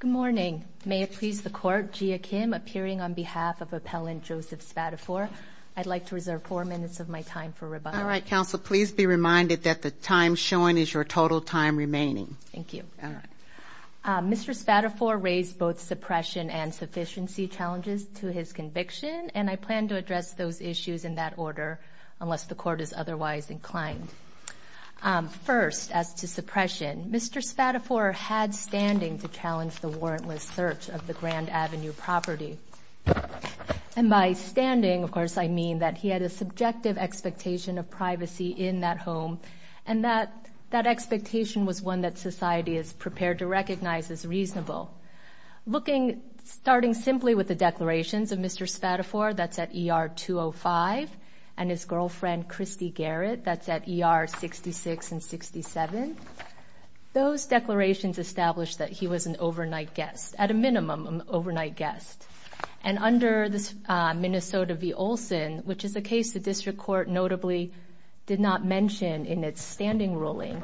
Good morning. May it please the Court, Gia Kim appearing on behalf of Appellant Joseph Spadafore. I'd like to reserve four minutes of my time for rebuttal. All right, Counsel. Please be reminded that the time shown is your total time remaining. Thank you. All right. Mr. Spadafore raised both suppression and sufficiency challenges to his conviction, and I plan to address those issues in that order, unless the Court is otherwise inclined. First, as to suppression, Mr. Spadafore had standing to challenge the warrantless search of the Grand Avenue property. And by standing, of course, I mean that he had a subjective expectation of privacy in that home, and that expectation was one that society is prepared to recognize as reasonable. Starting simply with the declarations of Mr. Spadafore, that's at ER 205, and his girlfriend, Christy Garrett, that's at ER 66 and 67, those declarations established that he was an overnight guest, at a minimum, an overnight guest. And under the Minnesota v. Olson, which is a case the District Court notably did not mention in its standing ruling,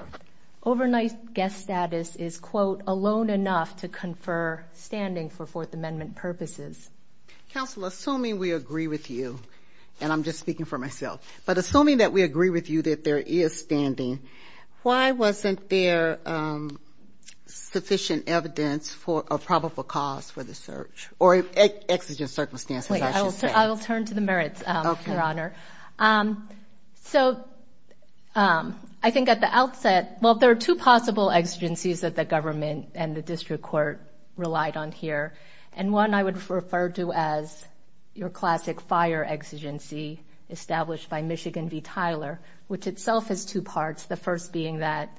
overnight guest status is, quote, alone enough to confer standing for Fourth Amendment purposes. Counsel, assuming we agree with you, and I'm just speaking for myself, but assuming that we agree with you that there is standing, why wasn't there sufficient evidence for a probable cause for the search, or exigent circumstances, I should say? I will turn to the merits, Your Honor. Okay. So, I think at the outset, well, there are two possible exigencies that the government and the District Court relied on here, and one I would refer to as your classic fire exigency established by Michigan v. Tyler, which itself has two parts, the first being that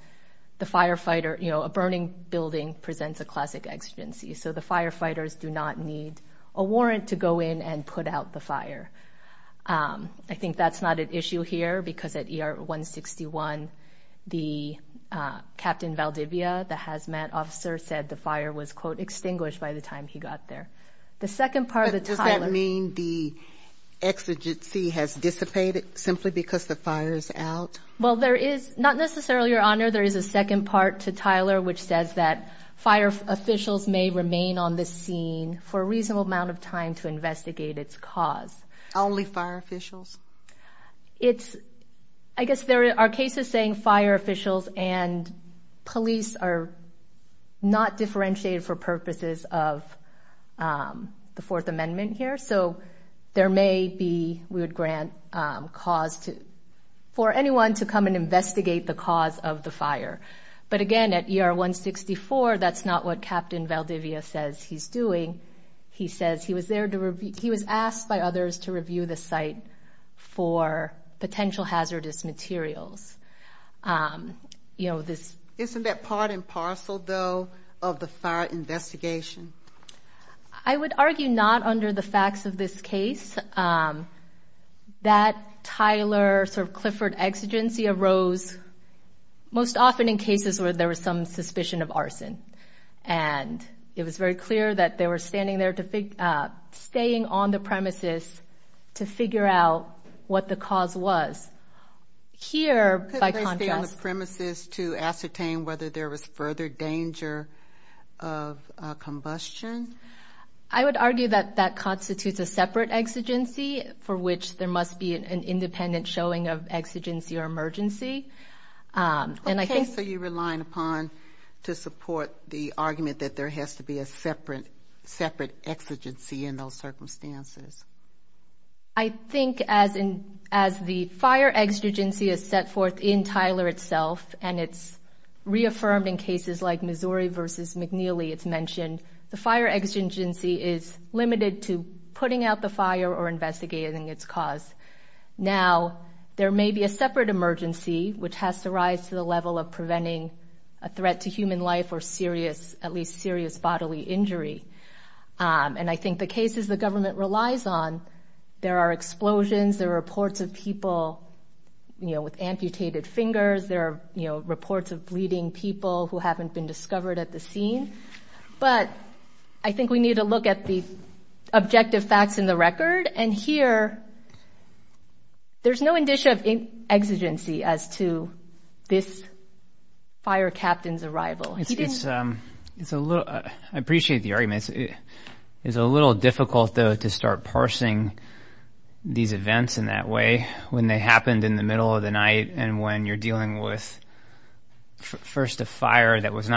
the firefighter, you know, a burning building presents a classic exigency, so the that's not an issue here, because at ER 161, the Captain Valdivia, the hazmat officer, said the fire was, quote, extinguished by the time he got there. The second part of the Tyler... But does that mean the exigency has dissipated simply because the fire is out? Well, there is, not necessarily, Your Honor, there is a second part to Tyler, which says that fire officials may remain on the scene for a reasonable amount of time to investigate its cause. Only fire officials? It's... I guess there are cases saying fire officials and police are not differentiated for purposes of the Fourth Amendment here, so there may be, we would grant cause for anyone to come and investigate the cause of the fire. But again, at ER 164, that's not what Captain Valdivia says he's doing. He says he was there to review... He was asked by others to review the site for potential hazardous materials. You know, this... Isn't that part and parcel, though, of the fire investigation? I would argue not under the facts of this case. That Tyler sort of Clifford exigency arose most often in cases where there was some suspicion of arson, and it was very clear that they were standing there, staying on the premises to figure out what the cause was. Here, by contrast... Could they stay on the premises to ascertain whether there was further danger of combustion? I would argue that that constitutes a separate exigency for which there must be an independent showing of exigency or emergency. Okay, so you're relying upon to support the argument that there has to be a separate exigency in those circumstances. I think as the fire exigency is set forth in Tyler itself, and it's reaffirmed in cases like Missouri v. McNeely, it's mentioned, the fire exigency is limited to putting out the fire or investigating its cause. Now, there may be a separate emergency which has to rise to the level of preventing a threat to human life or serious, at least serious bodily injury. And I think the cases the government relies on, there are explosions, there are reports of people with amputated fingers, there are reports of bleeding people who haven't been recorded. And here, there's no indicia of exigency as to this fire captain's arrival. I appreciate the argument. It's a little difficult, though, to start parsing these events in that way when they happened in the middle of the night and when you're dealing with first a fire that was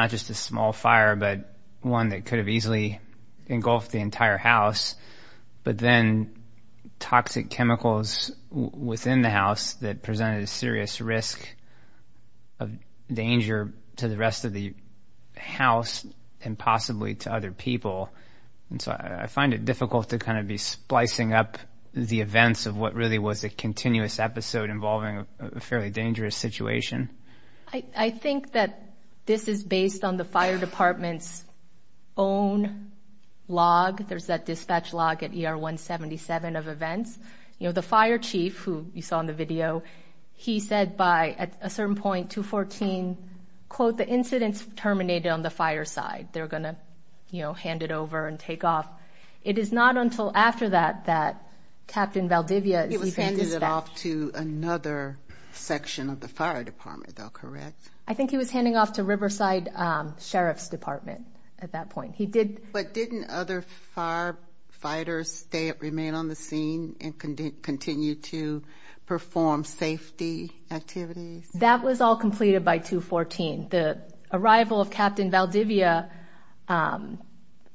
toxic chemicals within the house that presented a serious risk of danger to the rest of the house and possibly to other people. And so I find it difficult to kind of be splicing up the events of what really was a continuous episode involving a fairly dangerous situation. I think that this is based on the fire department's own log. There's that dispatch log at ER 177 of events. You know, the fire chief, who you saw in the video, he said by a certain point, 2-14, quote, the incident's terminated on the fire side. They're going to, you know, hand it over and take off. It is not until after that that Captain Valdivia is being dispatched. He was handing it off to another section of the fire department, though, correct? I think he was handing off to Riverside Sheriff's Department at that point. But didn't other firefighters remain on the scene and continue to perform safety activities? That was all completed by 2-14. The arrival of Captain Valdivia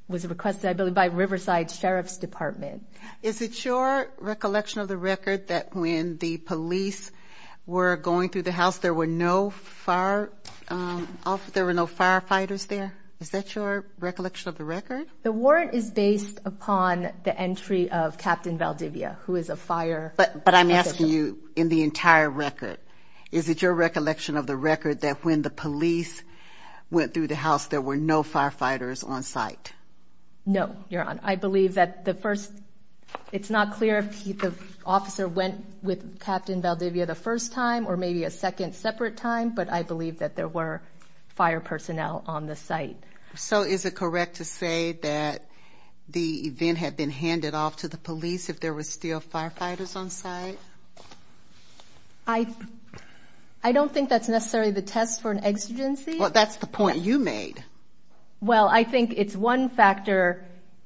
was requested, I believe, by Riverside Sheriff's Department. Is it your recollection of the record that when the police were going through the house, there were no firefighters there? Is that your recollection of the record? The warrant is based upon the entry of Captain Valdivia, who is a fire official. But I'm asking you in the entire record. Is it your recollection of the record that when the police went through the house, there were no firefighters on site? No, Your Honor. I believe that the first – it's not clear if the officer went with Captain Valdivia the first time or maybe a second separate time, but I believe that there were fire personnel on the site. So is it correct to say that the event had been handed off to the police if there were still firefighters on site? I don't think that's necessarily the test for an exigency. Well, that's the point you made. Well, I think it's one factor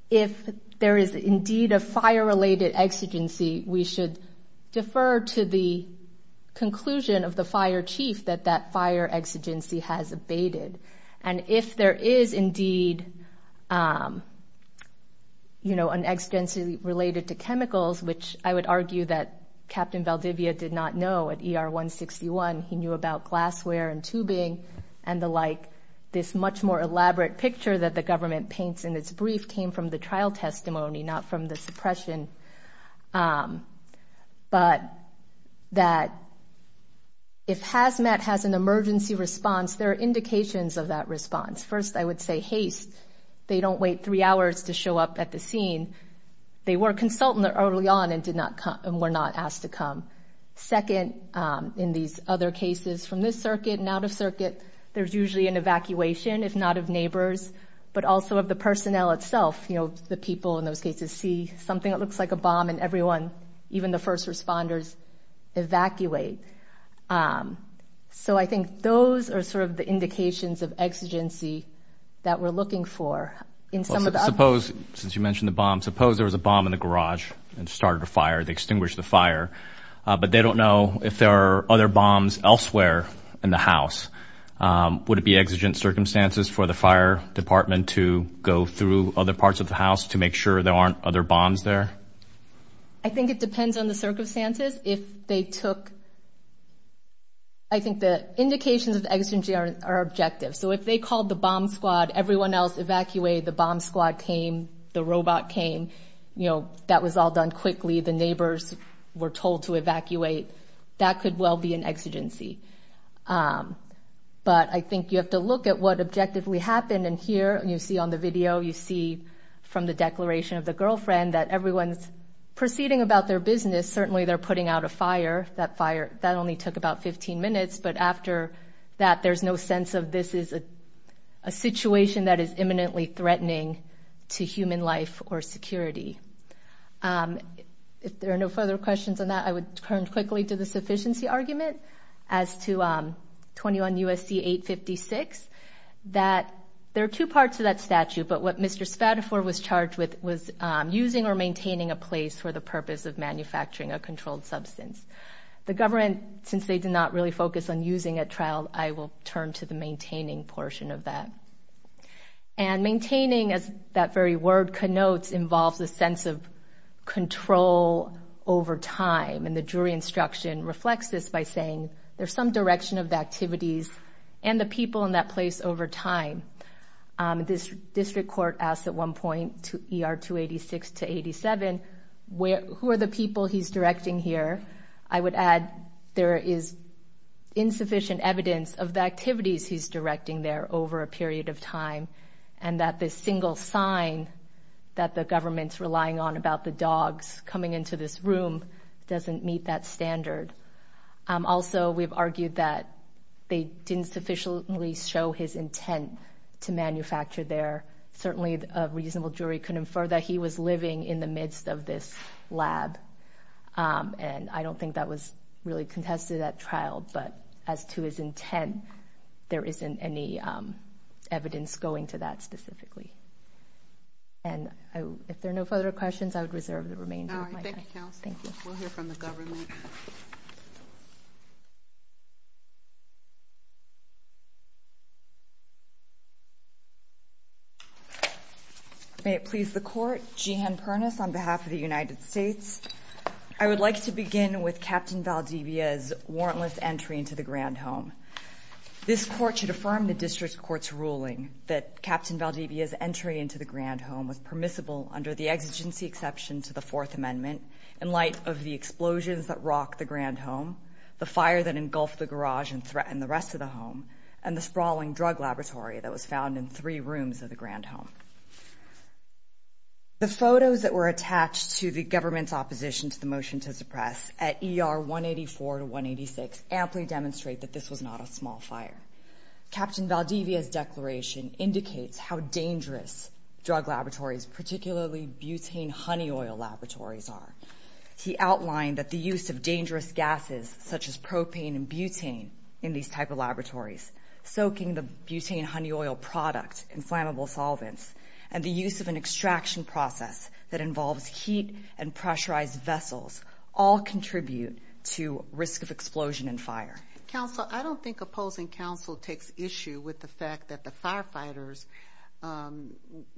if there is indeed a fire-related exigency, we should defer to the conclusion of the fire chief that that fire exigency has abated. And if there is indeed an exigency related to chemicals, which I would argue that Captain Valdivia did not know at ER 161. He knew about glassware and tubing and the like. This much more elaborate picture that the government paints in its brief came from the trial testimony, not from the suppression. But that if HazMat has an emergency response, there are indications of that response. First, I would say haste. They don't wait three hours to show up at the scene. They were a consultant early on and were not asked to come. Second, in these other cases from this circuit and out of circuit, there's usually an evacuation, if not of neighbors, but also of the personnel itself. You know, the people in those cases see something that looks like a bomb and everyone, even the first responders, evacuate. So I think those are sort of the indications of exigency that we're looking for. Suppose, since you mentioned the bomb, suppose there was a bomb in the garage but they don't know if there are other bombs elsewhere in the house. Would it be exigent circumstances for the fire department to go through other parts of the house to make sure there aren't other bombs there? I think it depends on the circumstances. If they took, I think the indications of exigency are objective. So if they called the bomb squad, everyone else evacuated, the bomb squad came, the robot came, you know, that was all done quickly. The neighbors were told to evacuate. That could well be an exigency. But I think you have to look at what objectively happened. And here, you see on the video, you see from the declaration of the girlfriend that everyone's proceeding about their business. Certainly they're putting out a fire. That fire, that only took about 15 minutes. But after that, there's no sense of this is a situation that is imminently threatening to human life or security. If there are no further questions on that, I would turn quickly to the sufficiency argument as to 21 U.S.C. 856 that there are two parts to that statute, but what Mr. Spadafore was charged with was using or maintaining a place for the purpose of manufacturing a controlled substance. The government, since they did not really focus on using a trial, I will turn to the maintaining portion of that. And maintaining, as that very word connotes, involves a sense of control over time. And the jury instruction reflects this by saying there's some direction of the activities and the people in that place over time. This district court asked at one point, ER 286 to 87, who are the people he's directing here? I would add there is insufficient evidence of the activities he's directing there over a period of time and that the single sign that the government's relying on about the dogs coming into this room doesn't meet that standard. Also, we've argued that they didn't sufficiently show his intent to manufacture there. Certainly, a reasonable jury could infer that he was living in the midst of this lab. And I don't think that was really contested at trial, but as to his intent, there isn't any evidence going to that specifically. And if there are no further questions, I would reserve the remainder of my time. All right, thank you, counsel. We'll hear from the government. May it please the court, Jeanne Pernas on behalf of the United States. I would like to begin with Captain Valdivia's warrantless entry into the Grand Home. This court should affirm the district court's ruling that Captain Valdivia's entry into the Grand Home was permissible under the exigency exception to the Fourth Amendment in light of the explosions that rocked the Grand Home, the fire that engulfed the garage and threatened the rest of the home, and the sprawling drug laboratory that was found in three rooms of the Grand Home. The photos that were attached to the government's opposition to the motion to suppress at ER 184 to 186 amply demonstrate that this was not a small fire. Captain Valdivia's declaration indicates how dangerous drug laboratories, particularly butane honey oil laboratories, are. He outlined that the use of dangerous gases such as propane and butane in these type of laboratories, soaking the butane honey oil product in flammable solvents, and the use of an extraction process that involves heat and pressurized vessels all contribute to risk of explosion and fire. Counsel, I don't think opposing counsel takes issue with the fact that the firefighters'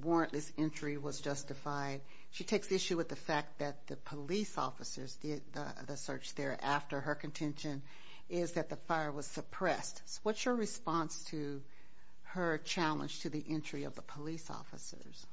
warrantless entry was justified. She takes issue with the fact that the police officers did the search thereafter. Her contention is that the fire was suppressed. What's your response to her challenge to the entry of the police officers?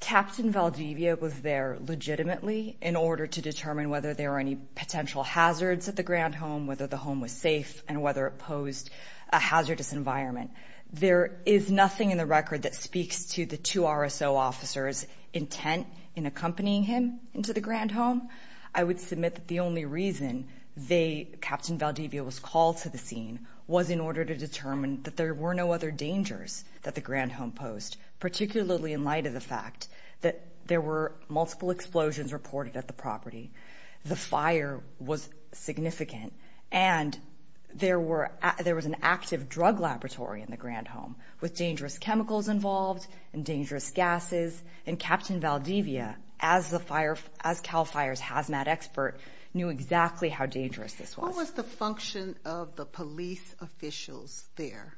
Captain Valdivia was there legitimately in order to determine whether there were any potential hazards at the Grand Home, whether the home was safe, and whether it posed a hazardous environment. There is nothing in the record that speaks to the two RSO officers' intent in accompanying him into the Grand Home. I would submit that the only reason they, Captain Valdivia, was called to the scene was in order to determine that there were no other dangers that the Grand Home posed, particularly in light of the fact that there were multiple explosions reported at the property. The fire was significant, and there was an active drug laboratory in the Grand Home with dangerous chemicals involved and dangerous gases, and Captain Valdivia, as CAL FIRE's hazmat expert, knew exactly how dangerous this was. What was the function of the police officials there?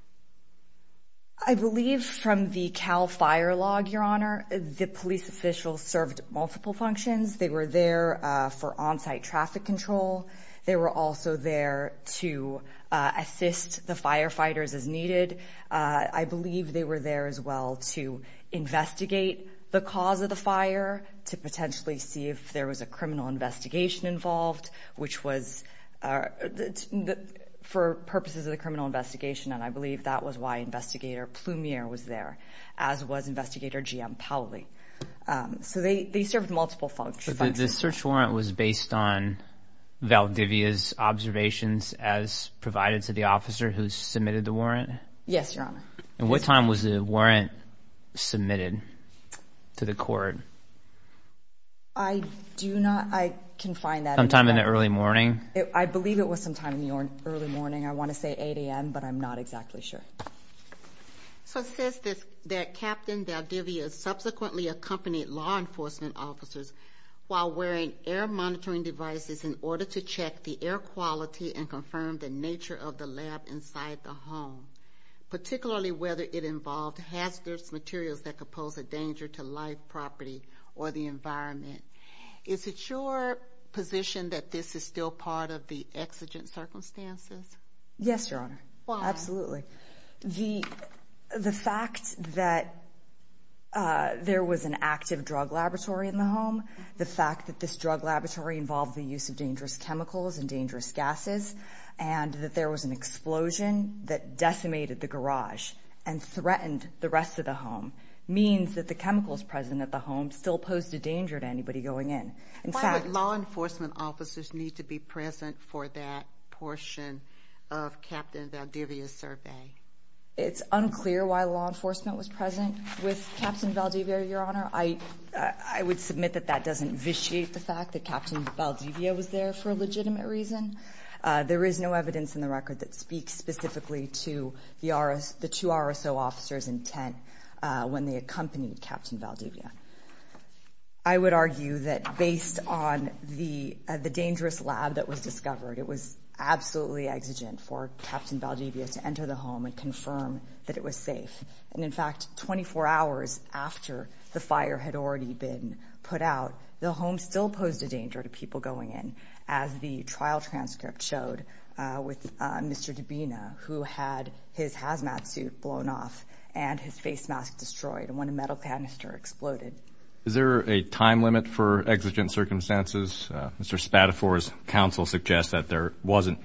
I believe from the CAL FIRE log, Your Honor, the police officials served multiple functions. They were there for on-site traffic control. They were also there to assist the firefighters as needed. I believe they were there as well to investigate the cause of the fire, to potentially see if there was a criminal investigation involved, which was for purposes of the criminal investigation, and I believe that was why Investigator Plumier was there, as was Investigator G.M. Powley. So they served multiple functions. The search warrant was based on Valdivia's observations as provided to the officer who submitted the warrant? Yes, Your Honor. And what time was the warrant submitted to the court? I do not... I can find that... Sometime in the early morning? I believe it was sometime in the early morning. I want to say 8 a.m., but I'm not exactly sure. So it says that Captain Valdivia subsequently accompanied law enforcement officers while wearing air monitoring devices in order to check the air quality and confirm the nature of the lab inside the home, particularly whether it involved hazardous materials that could pose a danger to life, property, or the environment. Is it your position that this is still part of the exigent circumstances? Yes, Your Honor, absolutely. Why? The fact that there was an active drug laboratory in the home, the fact that this drug laboratory involved the use of dangerous chemicals and dangerous gases, and that there was an explosion that decimated the garage and threatened the rest of the home means that the chemicals present at the home still posed a danger to anybody going in. Why would law enforcement officers need to be present for that portion of Captain Valdivia's survey? It's unclear why law enforcement was present with Captain Valdivia, Your Honor. I would submit that that doesn't vitiate the fact that Captain Valdivia was there for a legitimate reason. There is no evidence in the record that speaks specifically to the two RSO officers' intent when they accompanied Captain Valdivia. I would argue that based on the dangerous lab that was discovered, it was absolutely exigent for Captain Valdivia to enter the home and confirm that it was safe. And in fact, 24 hours after the fire had already been put out, the home still posed a danger to people going in, as the trial transcript showed, with Mr. Dabena, who had his hazmat suit blown off and his face mask destroyed, and when a metal canister exploded. Is there a time limit for exigent circumstances? Mr. Spadafore's counsel suggests that there wasn't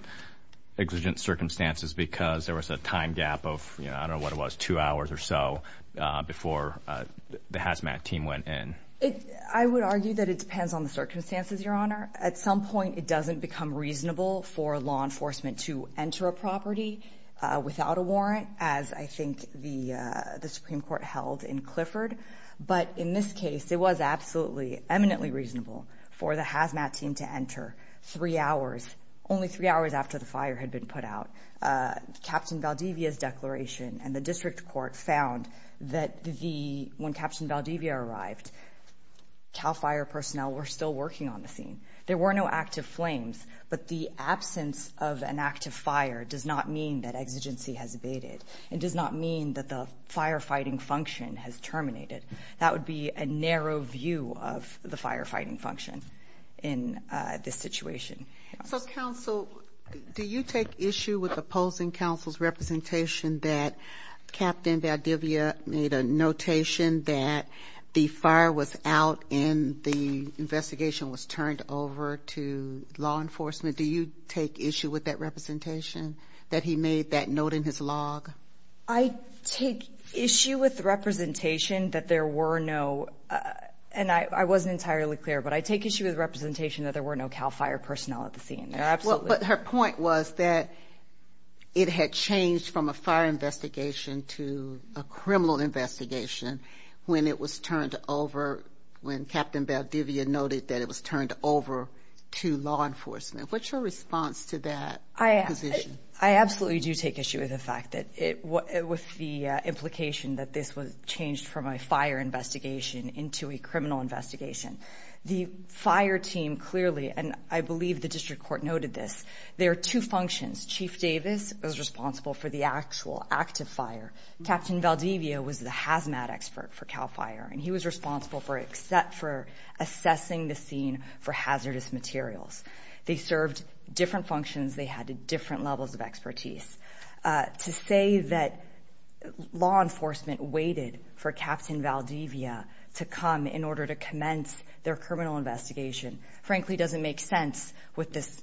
exigent circumstances because there was a time gap of, I don't know what it was, two hours or so before the hazmat team went in. I would argue that it depends on the circumstances, Your Honor. At some point, it doesn't become reasonable for law enforcement to enter a property without a warrant, as I think the Supreme Court held in Clifford. But in this case, it was absolutely, eminently reasonable for the hazmat team to enter three hours, only three hours after the fire had been put out. Captain Valdivia's declaration and the district court found that when Captain Valdivia arrived, CAL FIRE personnel were still working on the scene. There were no active flames, but the absence of an active fire does not mean that exigency has abated. It does not mean that the firefighting function has terminated. That would be a narrow view of the firefighting function in this situation. So, counsel, do you take issue with opposing counsel's representation that Captain Valdivia made a notation that the fire was out and the investigation was turned over to law enforcement? Do you take issue with that representation, that he made that note in his log? I take issue with representation that there were no... And I wasn't entirely clear, but I take issue with representation that there were no CAL FIRE personnel at the scene. But her point was that it had changed from a fire investigation to a criminal investigation when it was turned over, when Captain Valdivia noted that it was turned over to law enforcement. What's your response to that position? I absolutely do take issue with the fact that... with the implication that this was changed from a fire investigation into a criminal investigation. The fire team clearly, and I believe the district court noted this, there are two functions. Chief Davis was responsible for the actual active fire. Captain Valdivia was the hazmat expert for CAL FIRE, and he was responsible for assessing the scene for hazardous materials. They served different functions. They had different levels of expertise. To say that law enforcement waited for Captain Valdivia to come in order to commence their criminal investigation, frankly, doesn't make sense with this...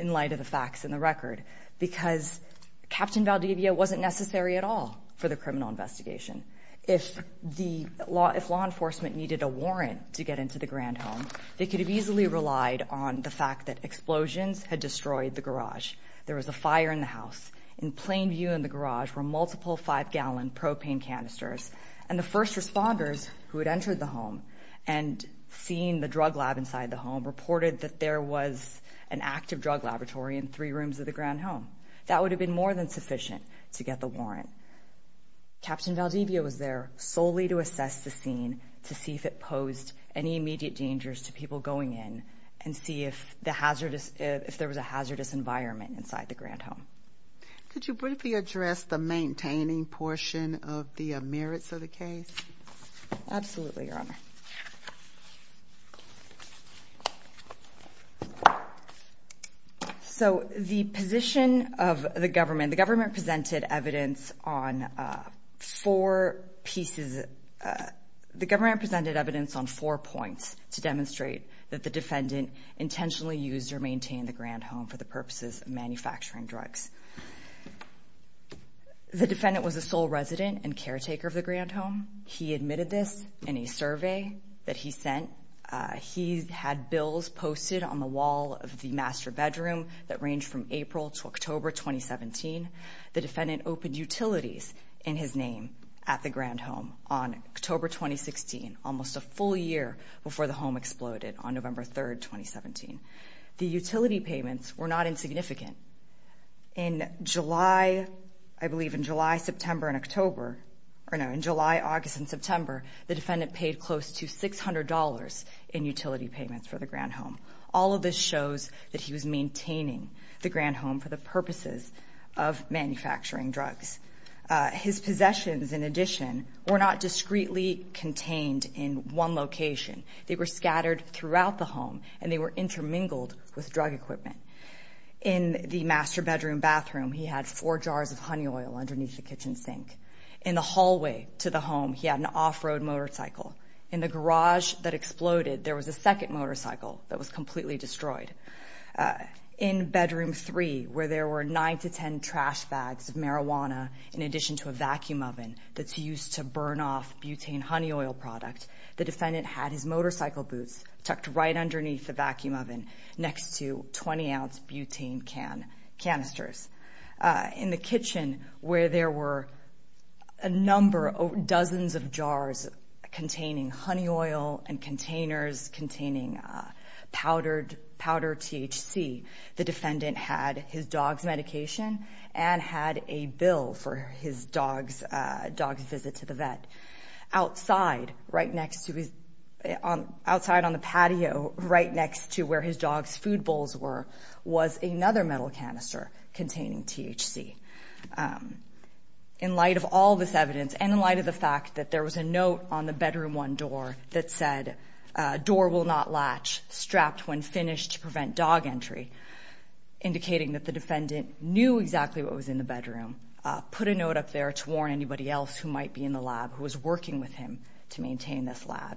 in light of the facts in the record, because Captain Valdivia wasn't necessary at all for the criminal investigation. If the law... if law enforcement needed a warrant to get into the grand home, they could have easily relied on the fact that explosions had destroyed the garage. There was a fire in the house. In plain view in the garage were multiple five-gallon propane canisters, and the first responders who had entered the home and seen the drug lab inside the home reported that there was an active drug laboratory in three rooms of the grand home. That would have been more than sufficient to get the warrant. Captain Valdivia was there solely to assess the scene to see if it posed any immediate dangers to people going in and see if the hazardous... if there was a hazardous environment inside the grand home. Could you briefly address the maintaining portion of the merits of the case? Absolutely, Your Honor. So the position of the government... the government presented evidence on four pieces... the government presented evidence on four points to demonstrate that the defendant intentionally used or maintained the grand home for the purposes of manufacturing drugs. The defendant was a sole resident and caretaker of the grand home. He admitted this in a survey that he sent. He had bills posted on the wall of the master bedroom that ranged from April to October 2017. The defendant opened utilities in his name at the grand home on October 2016, almost a full year before the home exploded, on November 3, 2017. The utility payments were not insignificant. In July... I believe in July, September, and October... or no, in July, August, and September, the defendant paid close to $600 in utility payments for the grand home. All of this shows that he was maintaining the grand home for the purposes of manufacturing drugs. His possessions, in addition, were not discreetly contained in one location. They were scattered throughout the home, and they were intermingled with drug equipment. In the master bedroom bathroom, he had four jars of honey oil underneath the kitchen sink. In the hallway to the home, he had an off-road motorcycle. In the garage that exploded, there was a second motorcycle that was completely destroyed. In bedroom three, where there were 9 to 10 trash bags of marijuana in addition to a vacuum oven that's used to burn off butane honey oil product, the defendant had his motorcycle boots tucked right underneath the vacuum oven next to 20-ounce butane canisters. In the kitchen, where there were a number, dozens of jars containing honey oil and containers containing powdered THC, the defendant had his dog's medication and had a bill for his dog's visit to the vet. Outside, right next to his... Outside on the patio, right next to where his dog's food bowls were, was another metal canister containing THC. In light of all this evidence, and in light of the fact that there was a note on the bedroom one door that said, uh, door will not latch, strapped when finished to prevent dog entry, indicating that the defendant knew exactly what was in the bedroom, put a note up there to warn anybody else who might be in the lab, who was working with him to maintain this lab,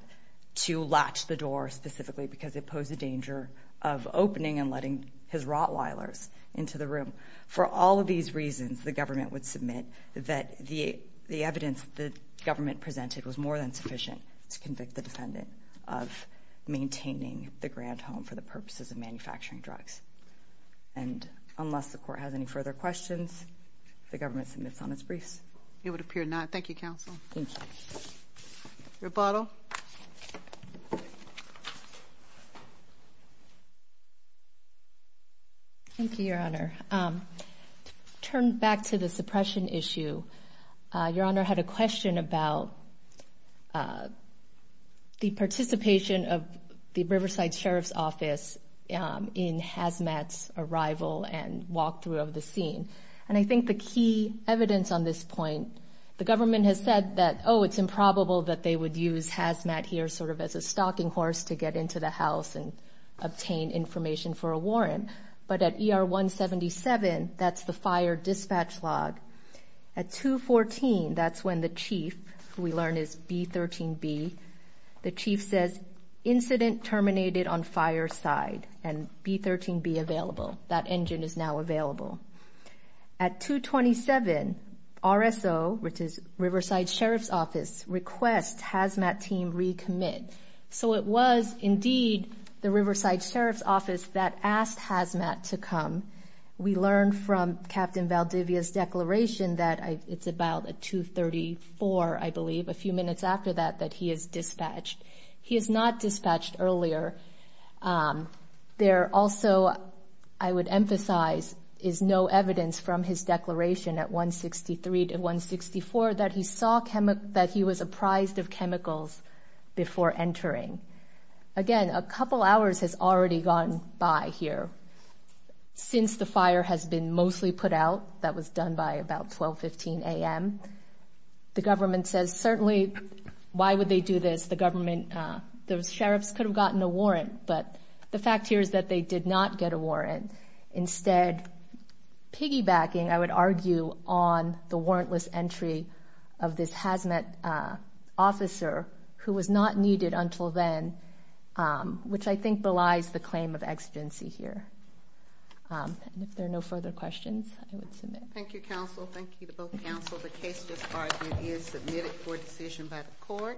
to latch the door specifically because it posed a danger of opening and letting his Rottweilers into the room. For all of these reasons, the government would submit that the evidence the government presented was more than sufficient to convict the defendant of maintaining the grant home for the purposes of manufacturing drugs. And unless the court has any further questions, the government submits on its briefs. It would appear not. Thank you, counsel. Thank you. Rebuttal. Thank you, Your Honor. To turn back to the suppression issue, Your Honor had a question about, uh, the participation of the Riverside Sheriff's Office in Hazmat's arrival and walkthrough of the scene. And I think the key evidence on this point, the government has said that, oh, it's improbable that they would use Hazmat here sort of as a stalking horse to get into the house and obtain information for a warrant. But at ER 177, that's the fire dispatch log. At 214, that's when the chief, who we learn is B-13B, the chief says, incident terminated on fire side. And B-13B available. That engine is now available. At 227, RSO, which is Riverside Sheriff's Office, requests Hazmat team recommit. So it was, indeed, the Riverside Sheriff's Office that asked Hazmat to come. We learn from Captain Valdivia's declaration that it's about at 234, I believe, a few minutes after that, that he is dispatched. He is not dispatched earlier. Um, there also, I would emphasize, is no evidence from his declaration at 163 to 164 that he saw that he was apprised of chemicals before entering. Again, a couple hours has already gone by here. Since the fire has been mostly put out, that was done by about 12, 15 a.m., the government says, certainly why would they do this? The government, those sheriffs could have gotten a warrant, but the fact here is that they did not get a warrant. Instead, piggybacking, I would argue, on the warrantless entry of this Hazmat officer, who was not needed until then, um, which I think belies the claim of exigency here. Um, and if there are no further questions, I would submit. Thank you, counsel. Thank you to both counsel. The case just argued is submitted for decision by the court.